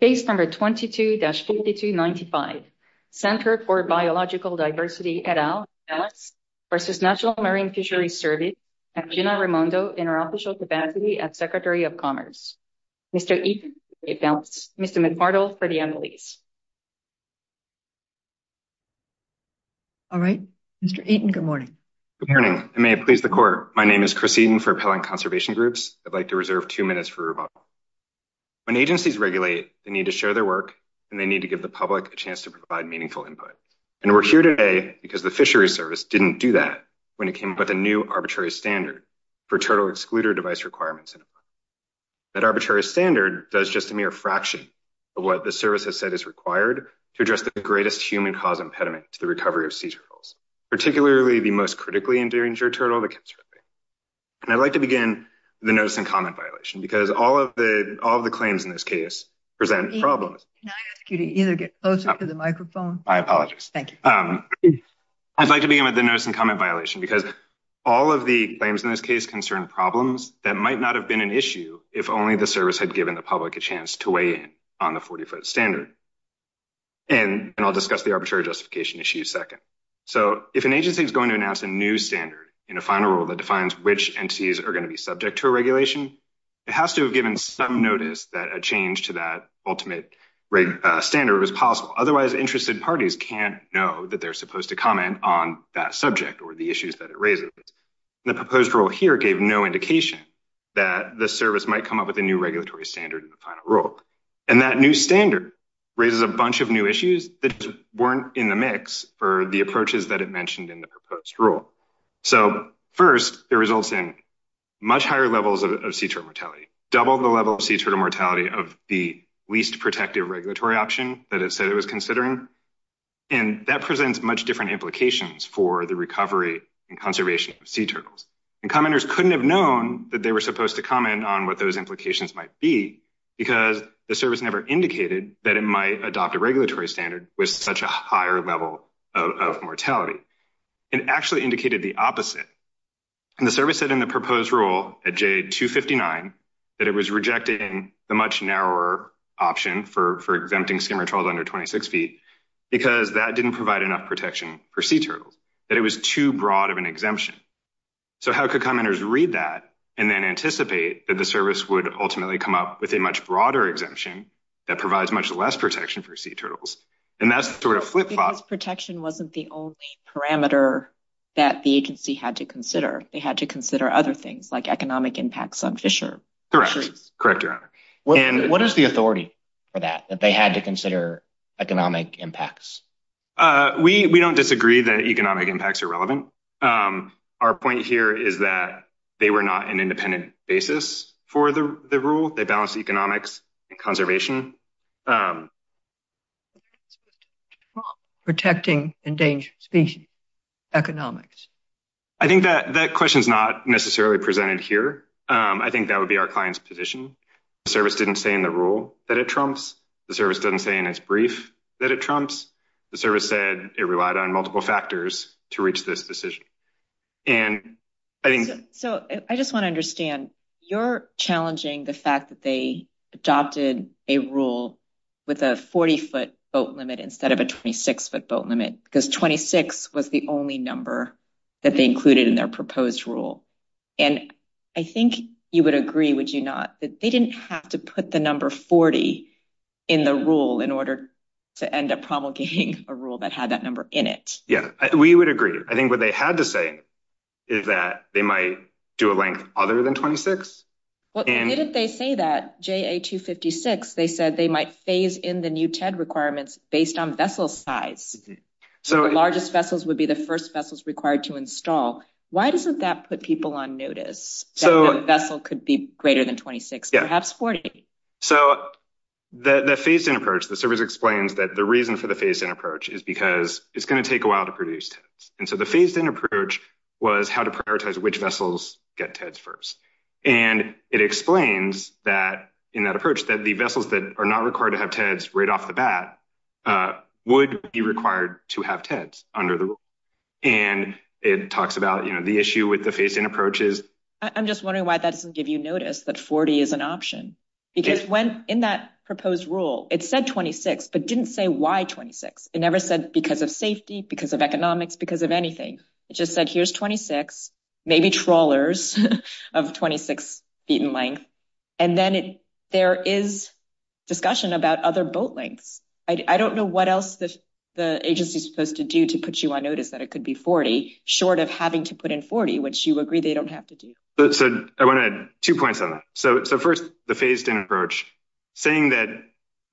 Case number 22-5295, Center for Biological Diversity et al. v. National Marine Fisheries Service at Gina Raimondo Interoperational Capacity at Secretary of Commerce. Mr. Eaton, Mr. McMartle for the embassies. All right, Mr. Eaton, good morning. Good morning, and may it please the court, my name is Chris Eaton for Appellant Conservation Groups. I'd like to reserve two minutes for Mr. McMartle to begin. I'd like to begin the notice and comment violation because all of the claims in this case present problems. Can I ask you to either get closer to the microphone? I apologize. Thank you. I'd like to begin with the notice and comment violation because all of the claims in this case concern problems that might not have been an issue if only the service had given the public a chance to weigh in on the 40-foot standard. And I'll discuss the arbitrary justification issue second. So if an agency is going to announce a new standard in a final rule that defines which entities are going to be subject to a regulation, it has to have given some notice that a change to that ultimate standard was possible. Otherwise, interested parties can't know that they're supposed to comment on that subject or the issues that it raises. The proposed rule here gave no indication that the service might come up with a new regulatory standard in the final rule. And that new standard raises a bunch of new issues that weren't in the mix for the approaches that it mentioned in the proposed rule. So first, it results in much higher levels of sea turtle mortality, double the level of sea turtle mortality of the least protective regulatory option that it said it was considering. And that presents much different implications for the recovery and conservation of sea turtles. And commenters couldn't have known that they were supposed to comment on what those implications might be because the service never indicated that it might adopt a regulatory standard with such a higher level of mortality. It actually indicated the opposite. And the service said in the proposed rule at Jade 259 that it was rejecting the much narrower option for exempting skimmer turtles under 26 feet because that didn't provide enough protection for sea turtles, that it was too broad of an exemption. So how could commenters read that and then anticipate that the service would ultimately come up with a much broader exemption that provides much less protection for sea turtles? And that's the sort of flip-flop. Because protection wasn't the only parameter that the agency had to consider. They had to consider other things like economic impacts on fisheries. Correct. Correct, Your Honor. And what is the authority for that, that they had to consider economic impacts? We don't disagree that economic impacts are relevant. Our point here is that they were not an independent basis for the rule. They were a balance of economics and conservation. Protecting endangered species, economics. I think that that question is not necessarily presented here. I think that would be our client's position. The service didn't say in the rule that it trumps. The service doesn't say in its brief that it trumps. The service said it relied on multiple factors to reach this decision. So I just want to understand, you're challenging the fact that they adopted a rule with a 40-foot boat limit instead of a 26-foot boat limit because 26 was the only number that they included in their proposed rule. And I think you would agree, would you not, that they didn't have to put the number 40 in the rule in order to end up promulgating a rule that had that number in it? Yeah, we would agree. I think what they had to say is that they do a length other than 26. Well, didn't they say that, JA256, they said they might phase in the new TED requirements based on vessel size. So the largest vessels would be the first vessels required to install. Why doesn't that put people on notice? So a vessel could be greater than 26, perhaps 40. So the phased-in approach, the service explains that the reason for the phased-in approach is because it's going to take a while to produce TEDs. And so the phased-in approach was how to prioritize which vessels get TEDs first. And it explains in that approach that the vessels that are not required to have TEDs right off the bat would be required to have TEDs under the rule. And it talks about the issue with the phased-in approaches. I'm just wondering why that doesn't give you notice that 40 is an option. Because in that proposed rule, it said 26, but didn't say why 26. It never said because of safety, because of economics, because of anything. It just said, here's 26, maybe trawlers of 26 feet in length. And then there is discussion about other boat lengths. I don't know what else the agency is supposed to do to put you on notice that it could be 40, short of having to put in 40, which you agree they don't have to do. So I want to add two points on that. So first, the phased-in approach, saying that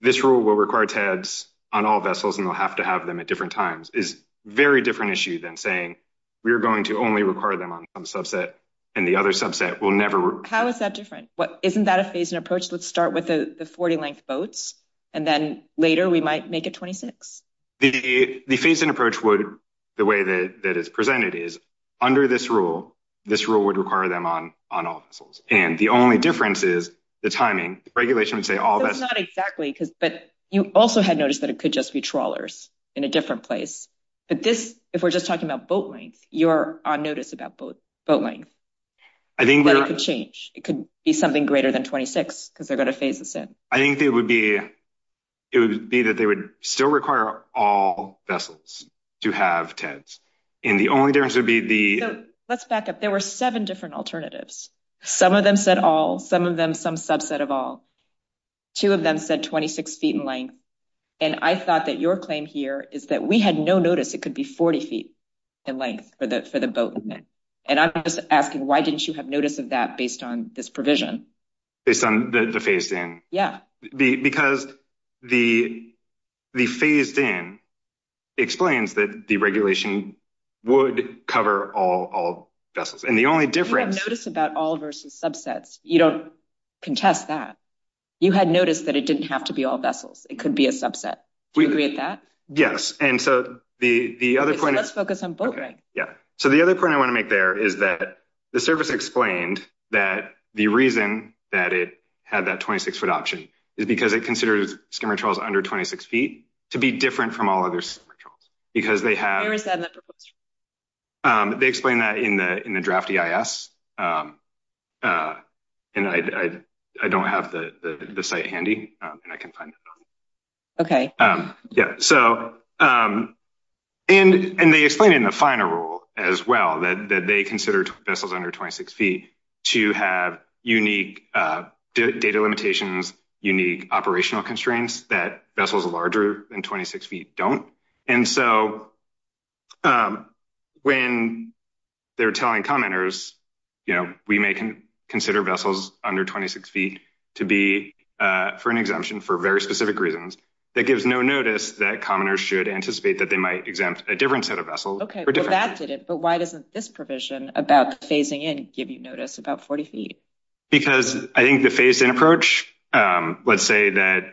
this rule will require TEDs on all vessels and they'll have to have them at different times is a very issue than saying we're going to only require them on some subset and the other subset will never... How is that different? Isn't that a phased-in approach? Let's start with the 40-length boats and then later we might make it 26. The phased-in approach, the way that it's presented, is under this rule, this rule would require them on all vessels. And the only difference is the timing. The regulation would say all vessels... That's not exactly, but you also had noticed it could just be trawlers in a different place. But this, if we're just talking about boat length, you're on notice about boat length. That it could change. It could be something greater than 26 because they're going to phase this in. I think it would be that they would still require all vessels to have TEDs. And the only difference would be the... So let's back up. There were seven different alternatives. Some of them said all, some of them some subset of all. Two of them said 26 feet in length. And I thought that your claim here is that we had no notice it could be 40 feet in length for the boat. And I'm just asking why didn't you have notice of that based on this provision? Based on the phased-in? Yeah. Because the phased-in explains that the regulation would cover all vessels. And the only difference... You have notice about all versus subsets. You don't contest that. You had notice that it didn't have to be all vessels. It could be a subset. Do you agree with that? Yes. And so the other point... So let's focus on boat length. Yeah. So the other point I want to make there is that the service explained that the reason that it had that 26-foot option is because it considers skimmer trawls under 26 feet to be different from all other skimmer trawls. Because they have... Where is that in the proposal? They explain that in the draft EIS. And I don't have the site handy and I can find it. Okay. Yeah. So and they explain in the final rule as well that they consider vessels under 26 feet to have unique data limitations, unique operational constraints that vessels larger than 26 feet don't. And so when they're telling commoners, you know, we may consider vessels under 26 feet to be for an exemption for very specific reasons. That gives no notice that commoners should anticipate that they might exempt a different set of vessels. Okay. Well, that did it. But why doesn't this provision about phasing in give you notice about 40 feet? Because I think the phase-in approach, let's say that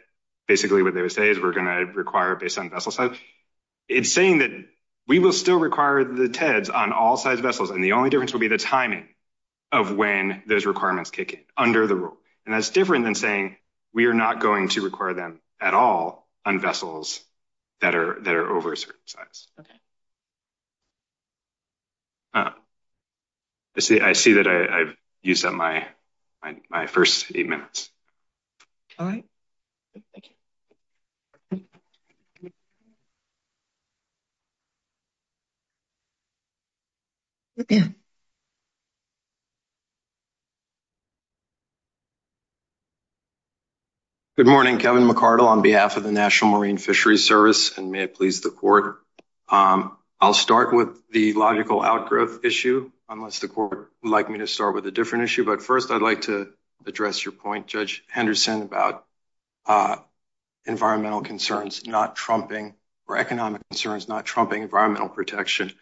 basically what they would say is we're going to require based on vessel size. It's saying that we will still require the TEDs on all sized vessels and the only difference will be the timing of when those requirements kick in under the rule. And that's different than saying we are not going to require them at all on vessels that are over a certain size. Okay. I see that I've used up my first eight minutes. All right. Good morning, Kevin. I'm Kevin McCardle on behalf of the National Marine Fisheries Service and may it please the court. I'll start with the logical outgrowth issue, unless the court would like me to start with a different issue. But first, I'd like to address your point, Judge Henderson, about environmental concerns not trumping or economic concerns not trumping environmental protection.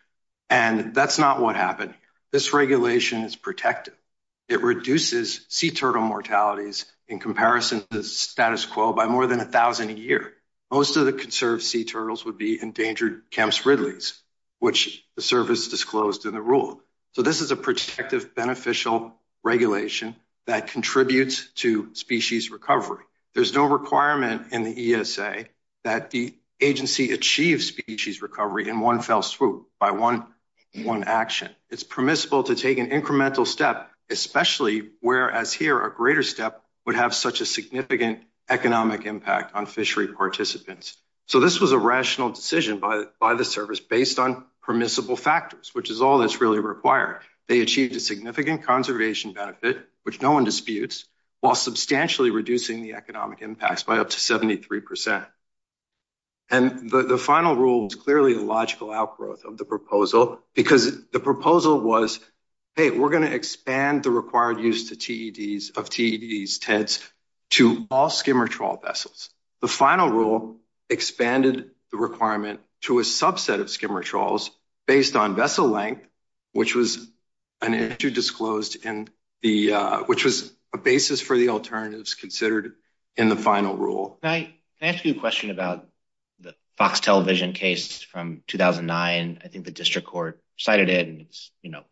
And that's not what happened. This regulation is protective. It reduces sea turtle mortalities in comparison to status quo by more than a thousand a year. Most of the conserved sea turtles would be endangered Kemp's Ridleys, which the service disclosed in the rule. So this is a protective beneficial regulation that contributes to species recovery. There's no requirement in the ESA that the agency achieves species recovery in one fell swoop by one action. It's permissible to take an incremental step, especially whereas here a greater step would have such a significant economic impact on fishery participants. So this was a rational decision by the service based on permissible factors, which is all that's really required. They achieved a significant conservation benefit, which no one disputes, while substantially reducing the economic impacts by up to 73%. And the final rule is clearly a logical outgrowth of the proposal because the proposal was, hey, we're going to expand the required use of TEDs to all skimmer trawl vessels. The final rule expanded the requirement to a subset of skimmer trawls based on vessel length, which was an issue disclosed in the, which was a basis for the alternatives considered in the final rule. Can I ask you a question about the Fox television case from 2009? I think the district court cited and it's, you know,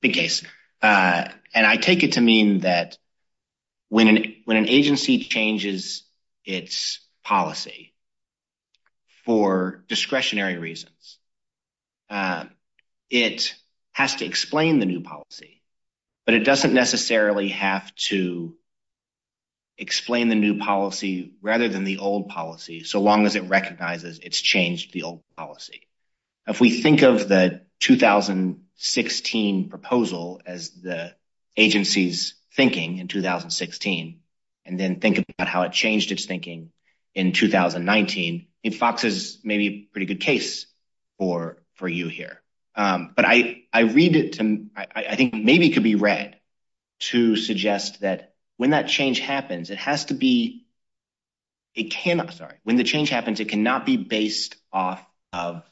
big case. And I take it to mean that when an agency changes its policy for discretionary reasons, it has to explain the new policy, but it doesn't necessarily have to explain the new policy rather than the old policy, so long as it recognizes it's changed the old policy. If we think of the 2016 proposal as the agency's thinking in 2016, and then think about how it changed its thinking in 2019, Fox is maybe a pretty good case for you here. But I read it to, I think maybe it could be read to suggest that when that change happens, it has to be, it cannot, sorry, when the change happens, it cannot be based off of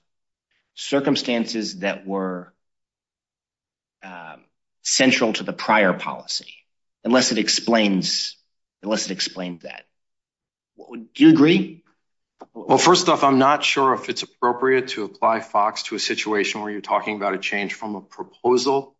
circumstances that were central to the prior policy, unless it explains, unless it explained that. Do you agree? Well, first off, I'm not sure if it's appropriate to apply Fox to a situation where you're talking about a change from a proposal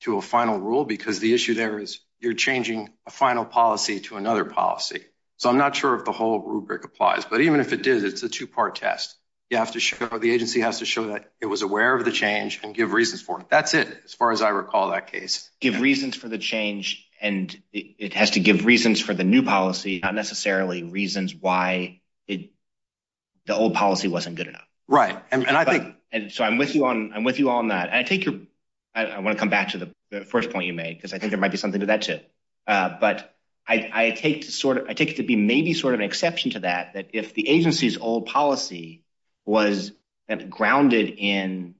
to a final rule, because the issue there is you're changing a final policy to another policy. So I'm not sure if the whole rubric applies, but even if it did, it's a two-part test. You have to show, the agency has to show that it was aware of the change and give reasons for it. That's it, as far as I recall that case. Give reasons for the change, and it has to give reasons for the new policy, not necessarily reasons why the old policy wasn't good enough. Right. And I think. And so I'm with you on that. And I take your, I want to come back to the first point you made, because I think there might be something to that too. But I take to sort of, I take it to be maybe sort of an exception to that, that if the agency's old policy was grounded in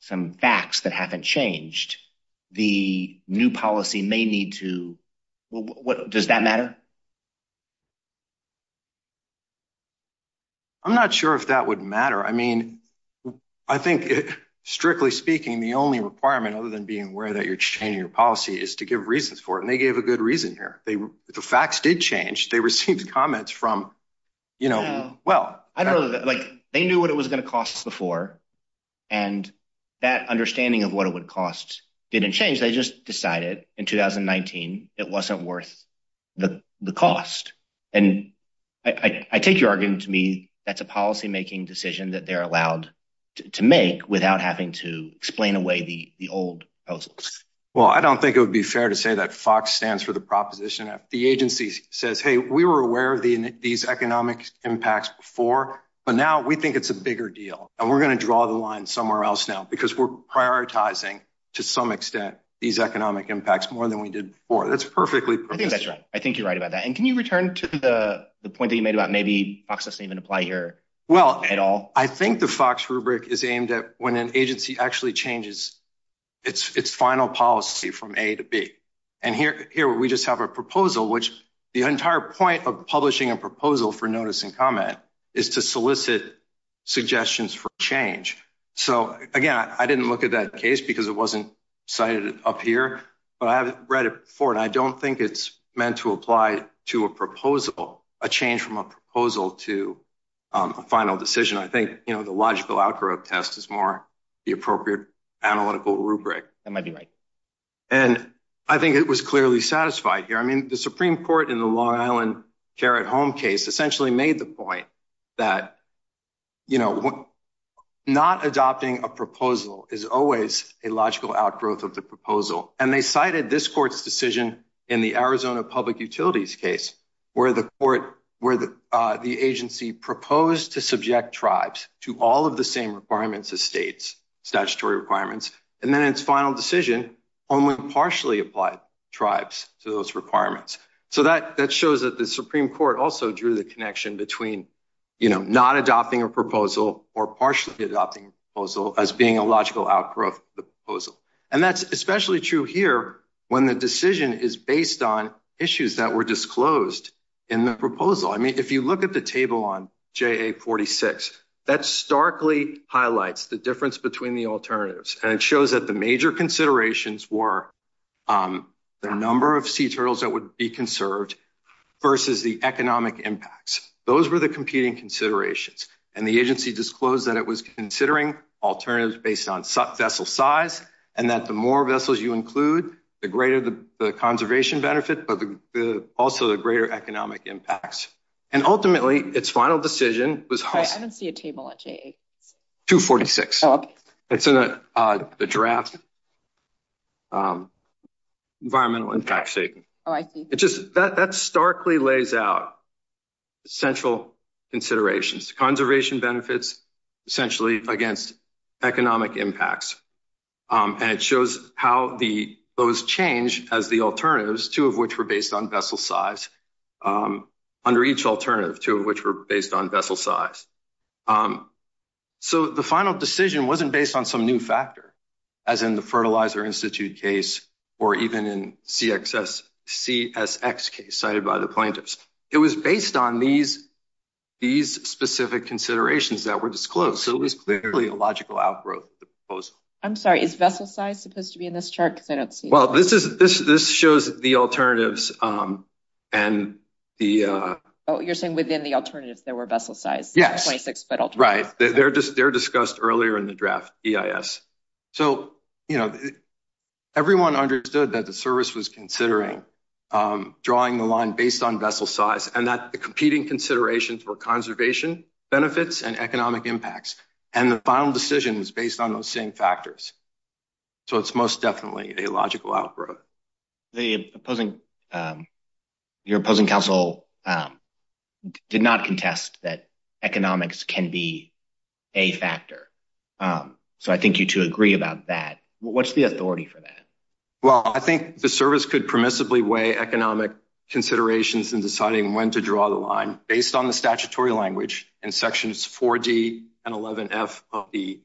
some facts that haven't changed, the new policy may need to. Does that matter? I'm not sure if that would matter. I mean, I think, strictly speaking, the only requirement, other than being aware that you're changing your policy, is to give reasons for it. And they gave a good reason here. The facts did change. They received comments from, you know, well. I don't know. Like, they knew what it was going to cost before, and that understanding of what it would cost didn't change. They just decided in 2019 it wasn't worth the cost. And I take your argument to me, that's a policymaking decision that they're allowed to make without having to hold proposals. Well, I don't think it would be fair to say that FOX stands for the proposition. The agency says, hey, we were aware of these economic impacts before, but now we think it's a bigger deal. And we're going to draw the line somewhere else now, because we're prioritizing, to some extent, these economic impacts more than we did before. That's perfectly. I think that's right. I think you're right about that. And can you return to the point that you made about maybe FOX doesn't even apply here at all? Well, I think the FOX rubric is aimed at when an agency actually changes its final policy from A to B. And here we just have a proposal, which the entire point of publishing a proposal for notice and comment is to solicit suggestions for change. So, again, I didn't look at that case because it wasn't cited up here, but I've read it before, and I don't think it's meant to apply to a proposal, a change from a proposal to a final decision. I think the logical outgrowth test is more the appropriate analytical rubric. That might be right. And I think it was clearly satisfied here. I mean, the Supreme Court in the Long Island Care at Home case essentially made the point that not adopting a proposal is always a logical outgrowth of the proposal. And they cited this court's decision in the Arizona Public Utilities case where the agency proposed to subject tribes to all of the same requirements as states, statutory requirements, and then its final decision only partially applied tribes to those requirements. So that shows that the Supreme Court also drew the connection between not adopting a proposal or partially adopting a proposal as being a logical outgrowth of the were disclosed in the proposal. I mean, if you look at the table on JA46, that starkly highlights the difference between the alternatives. And it shows that the major considerations were the number of sea turtles that would be conserved versus the economic impacts. Those were the competing considerations. And the agency disclosed that it was considering alternatives based on vessel size and that the more vessels you include, the greater the conservation benefit, but also the greater economic impacts. And ultimately, its final decision was- Sorry, I don't see a table at JA46. 246. Oh, okay. It's in the draft environmental impact statement. Oh, I see. It just, that starkly lays out central considerations. Conservation benefits essentially against economic impacts. And it shows how those change as the alternatives, two of which were based on vessel size, under each alternative, two of which were based on vessel size. So the final decision wasn't based on some new factor, as in the Fertilizer Institute case, or even in CSX case cited by the plaintiffs. It was based on these specific considerations that were disclosed. So it was clearly a logical outgrowth of the proposal. I'm sorry, is vessel size supposed to be in this chart? Because I don't see- This shows the alternatives and the- Oh, you're saying within the alternatives, there were vessel size. Yes. 26 foot alternatives. Right. They're discussed earlier in the draft, EIS. So everyone understood that the service was drawing the line based on vessel size and that the competing considerations were conservation benefits and economic impacts. And the final decision was based on those same factors. So it's most definitely a logical outgrowth. Your opposing counsel did not contest that economics can be a factor. So I think you two agree about that. What's the authority for that? Well, I think the service could permissibly weigh economic considerations in deciding when to draw the line based on the statutory language in sections 4D and 11F of the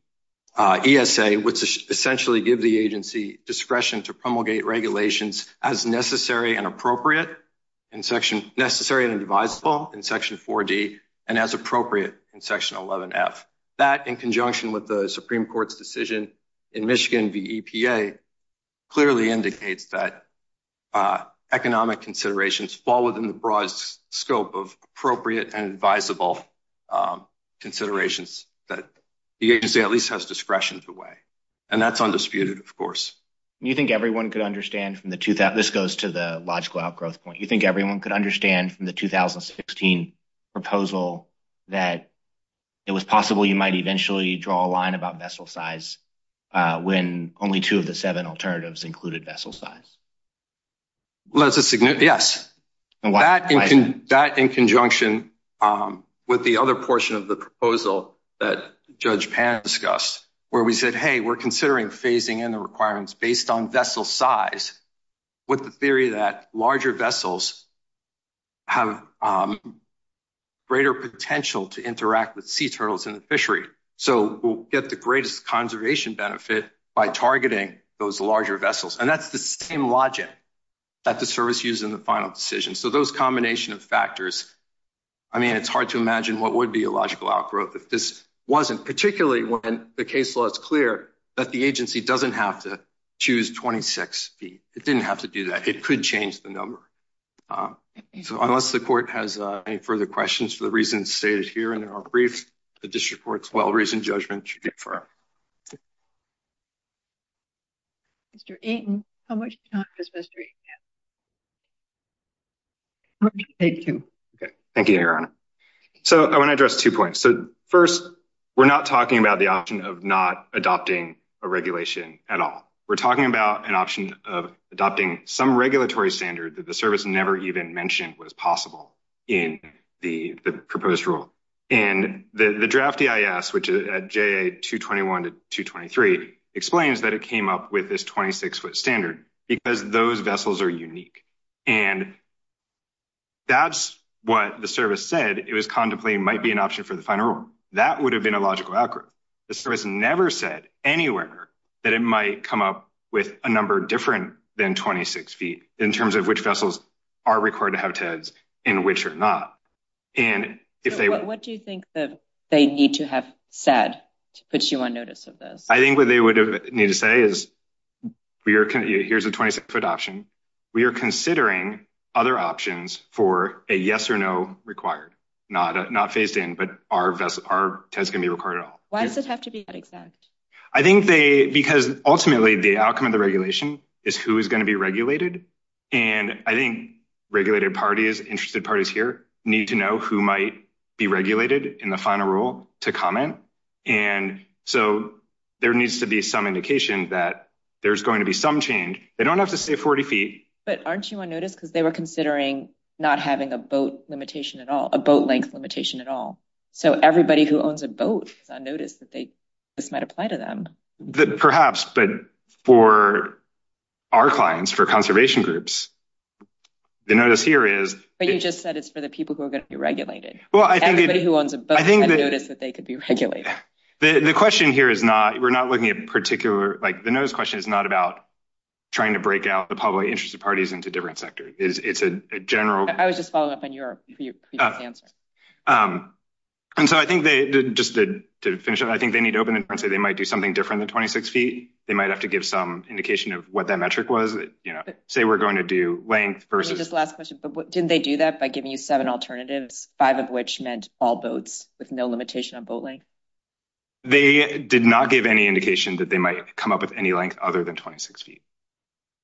ESA, which essentially give the agency discretion to promulgate regulations as necessary and appropriate in section- necessary and divisible in section 4D and as appropriate in section 11F. That in conjunction with the Supreme Court's decision in Michigan v. EPA clearly indicates that economic considerations fall within the broad scope of appropriate and divisible considerations that the agency at least has discretion to weigh. And that's undisputed, of course. You think everyone could understand from the- this goes to the logical outgrowth point. You think everyone could understand from the 2016 proposal that it was possible you might eventually draw a line about vessel size when only two of the seven alternatives included vessel size? Yes. That in conjunction with the other portion of the proposal that Judge Pan discussed, where we said, hey, we're considering phasing in the requirements based on vessel size with the theory that larger vessels have greater potential to interact with sea turtles in the fishery. So we'll get the greatest conservation benefit by targeting those larger vessels. And that's the same logic that the service used in the final decision. So those combination of factors, I mean, it's hard to imagine what would be a logical outgrowth if this wasn't, particularly when the case law is clear that the agency doesn't have to choose 26 feet. It didn't have to do that. It could change the number. So unless the court has any further questions for the reasons stated here in our brief, the district court's well-reasoned judgment should be firm. Mr. Aiton, how much time does Mr. Aiton have? I'll let you take two. Okay. Thank you, Your Honor. So I want to address two points. So first, we're not talking about the option of not adopting a regulation at all. We're talking about an option of adopting some regulatory standard that the service never even mentioned was possible in the proposed rule. And the draft EIS, which at JA-221 to 223, explains that it came up with this 26-foot standard because those vessels are unique. And that's what the service said it was contemplating might be an option for the final rule. That would have been a logical outgrowth. The service never said anywhere that it might come up with a number different than 26 feet in terms of which vessels are required to have TEDs and which are not. What do you think that they need to have said to put you on notice of this? I think what they would need to say is, here's a 26-foot option. We are considering other options for a yes or no required. Not phased in, but our TEDs can be required at all. Why does it have to be that exact? I think they, because ultimately the outcome of the regulation is who is going to be regulated. And I think regulated parties, interested parties here need to know who might be regulated in the final rule to comment. And so there needs to be some indication that there's going to be some change. They don't have to stay 40 feet. But aren't you on notice because they were considering not having a boat limitation at all, a boat length limitation at all. So everybody who owns a boat is on notice that this might apply to them. Perhaps, but for our clients, for conservation groups, the notice here is... But you just said it's for the people who are going to be regulated. Well, I think... Everybody who owns a boat is on notice that they could be regulated. The question here is not, we're not looking at particular, like the notice question is not about trying to break out the public interest of parties into different sectors. It's a general... I was just following up on your previous answer. And so I think they, just to finish up, I think they need to open it and say they might do something different than 26 feet. They might have to give some indication of what that metric was. Say we're going to do length versus... Just last question, but didn't they do that by giving you seven alternatives, five of which meant all boats with no limitation on boat length? They did not give any indication that they might come up with any length other than 26 feet.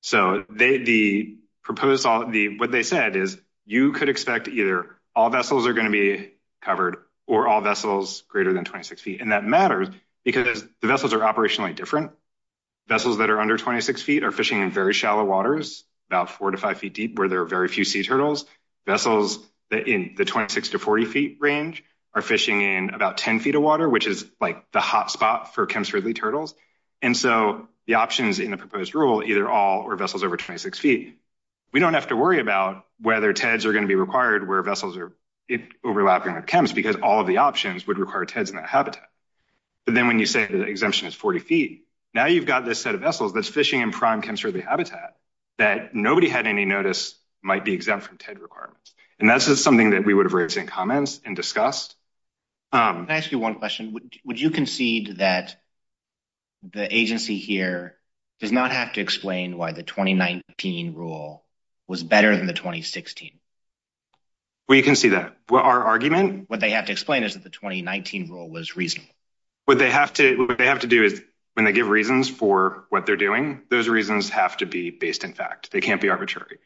So the proposal, what they said is you could expect either all vessels are going to be or all vessels greater than 26 feet. And that matters because the vessels are operationally different. Vessels that are under 26 feet are fishing in very shallow waters, about four to five feet deep, where there are very few sea turtles. Vessels that in the 26 to 40 feet range are fishing in about 10 feet of water, which is like the hot spot for Kemp's Ridley turtles. And so the options in the proposed rule, either all or vessels over 26 feet, we don't have to worry about whether TEDs are going to be required where vessels are overlapping with Kemp's because all of the options would require TEDs in that habitat. But then when you say the exemption is 40 feet, now you've got this set of vessels that's fishing in prime Kemp's Ridley habitat that nobody had any notice might be exempt from TED requirements. And that's just something that we would have raised in comments and discussed. Can I ask you one question? Would you concede that the agency here does not have to explain why the 2019 rule was better than the 2016? Well, you can see that what our argument, what they have to explain is that the 2019 rule was reasonable. What they have to do is when they give reasons for what they're doing, those reasons have to be based in fact, they can't be arbitrary.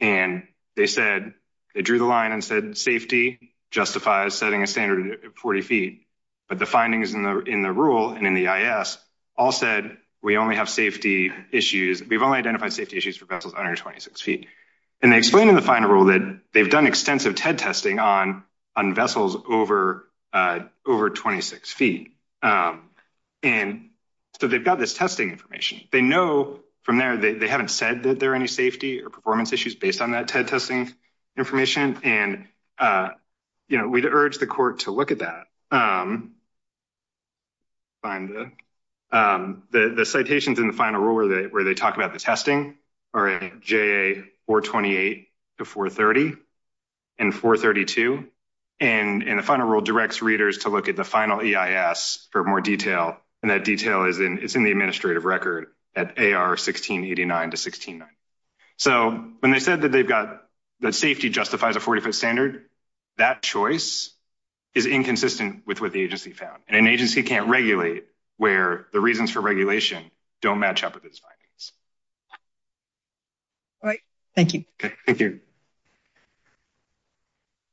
And they said they drew the line and said safety justifies setting a standard 40 feet. But the findings in the rule and in the IS all said we only have safety issues. We've only identified safety issues for vessels under 26 feet. And they explained in the final rule that they've done extensive TED testing on vessels over 26 feet. And so they've got this testing information. They know from there, they haven't said that there are any safety or performance issues based on that TED testing information. And we'd urge the court to look at that. And the citations in the final rule where they talk about the testing are JA 428 to 430 and 432. And the final rule directs readers to look at the final EIS for more detail. And that detail is in the administrative record at AR 1689 to 1690. So when they said that they've got that safety justifies a 40 foot standard, that choice is inconsistent with what the agency found. And an agency can't regulate where the reasons for regulation don't match up with its findings. All right. Thank you. Okay. Thank you.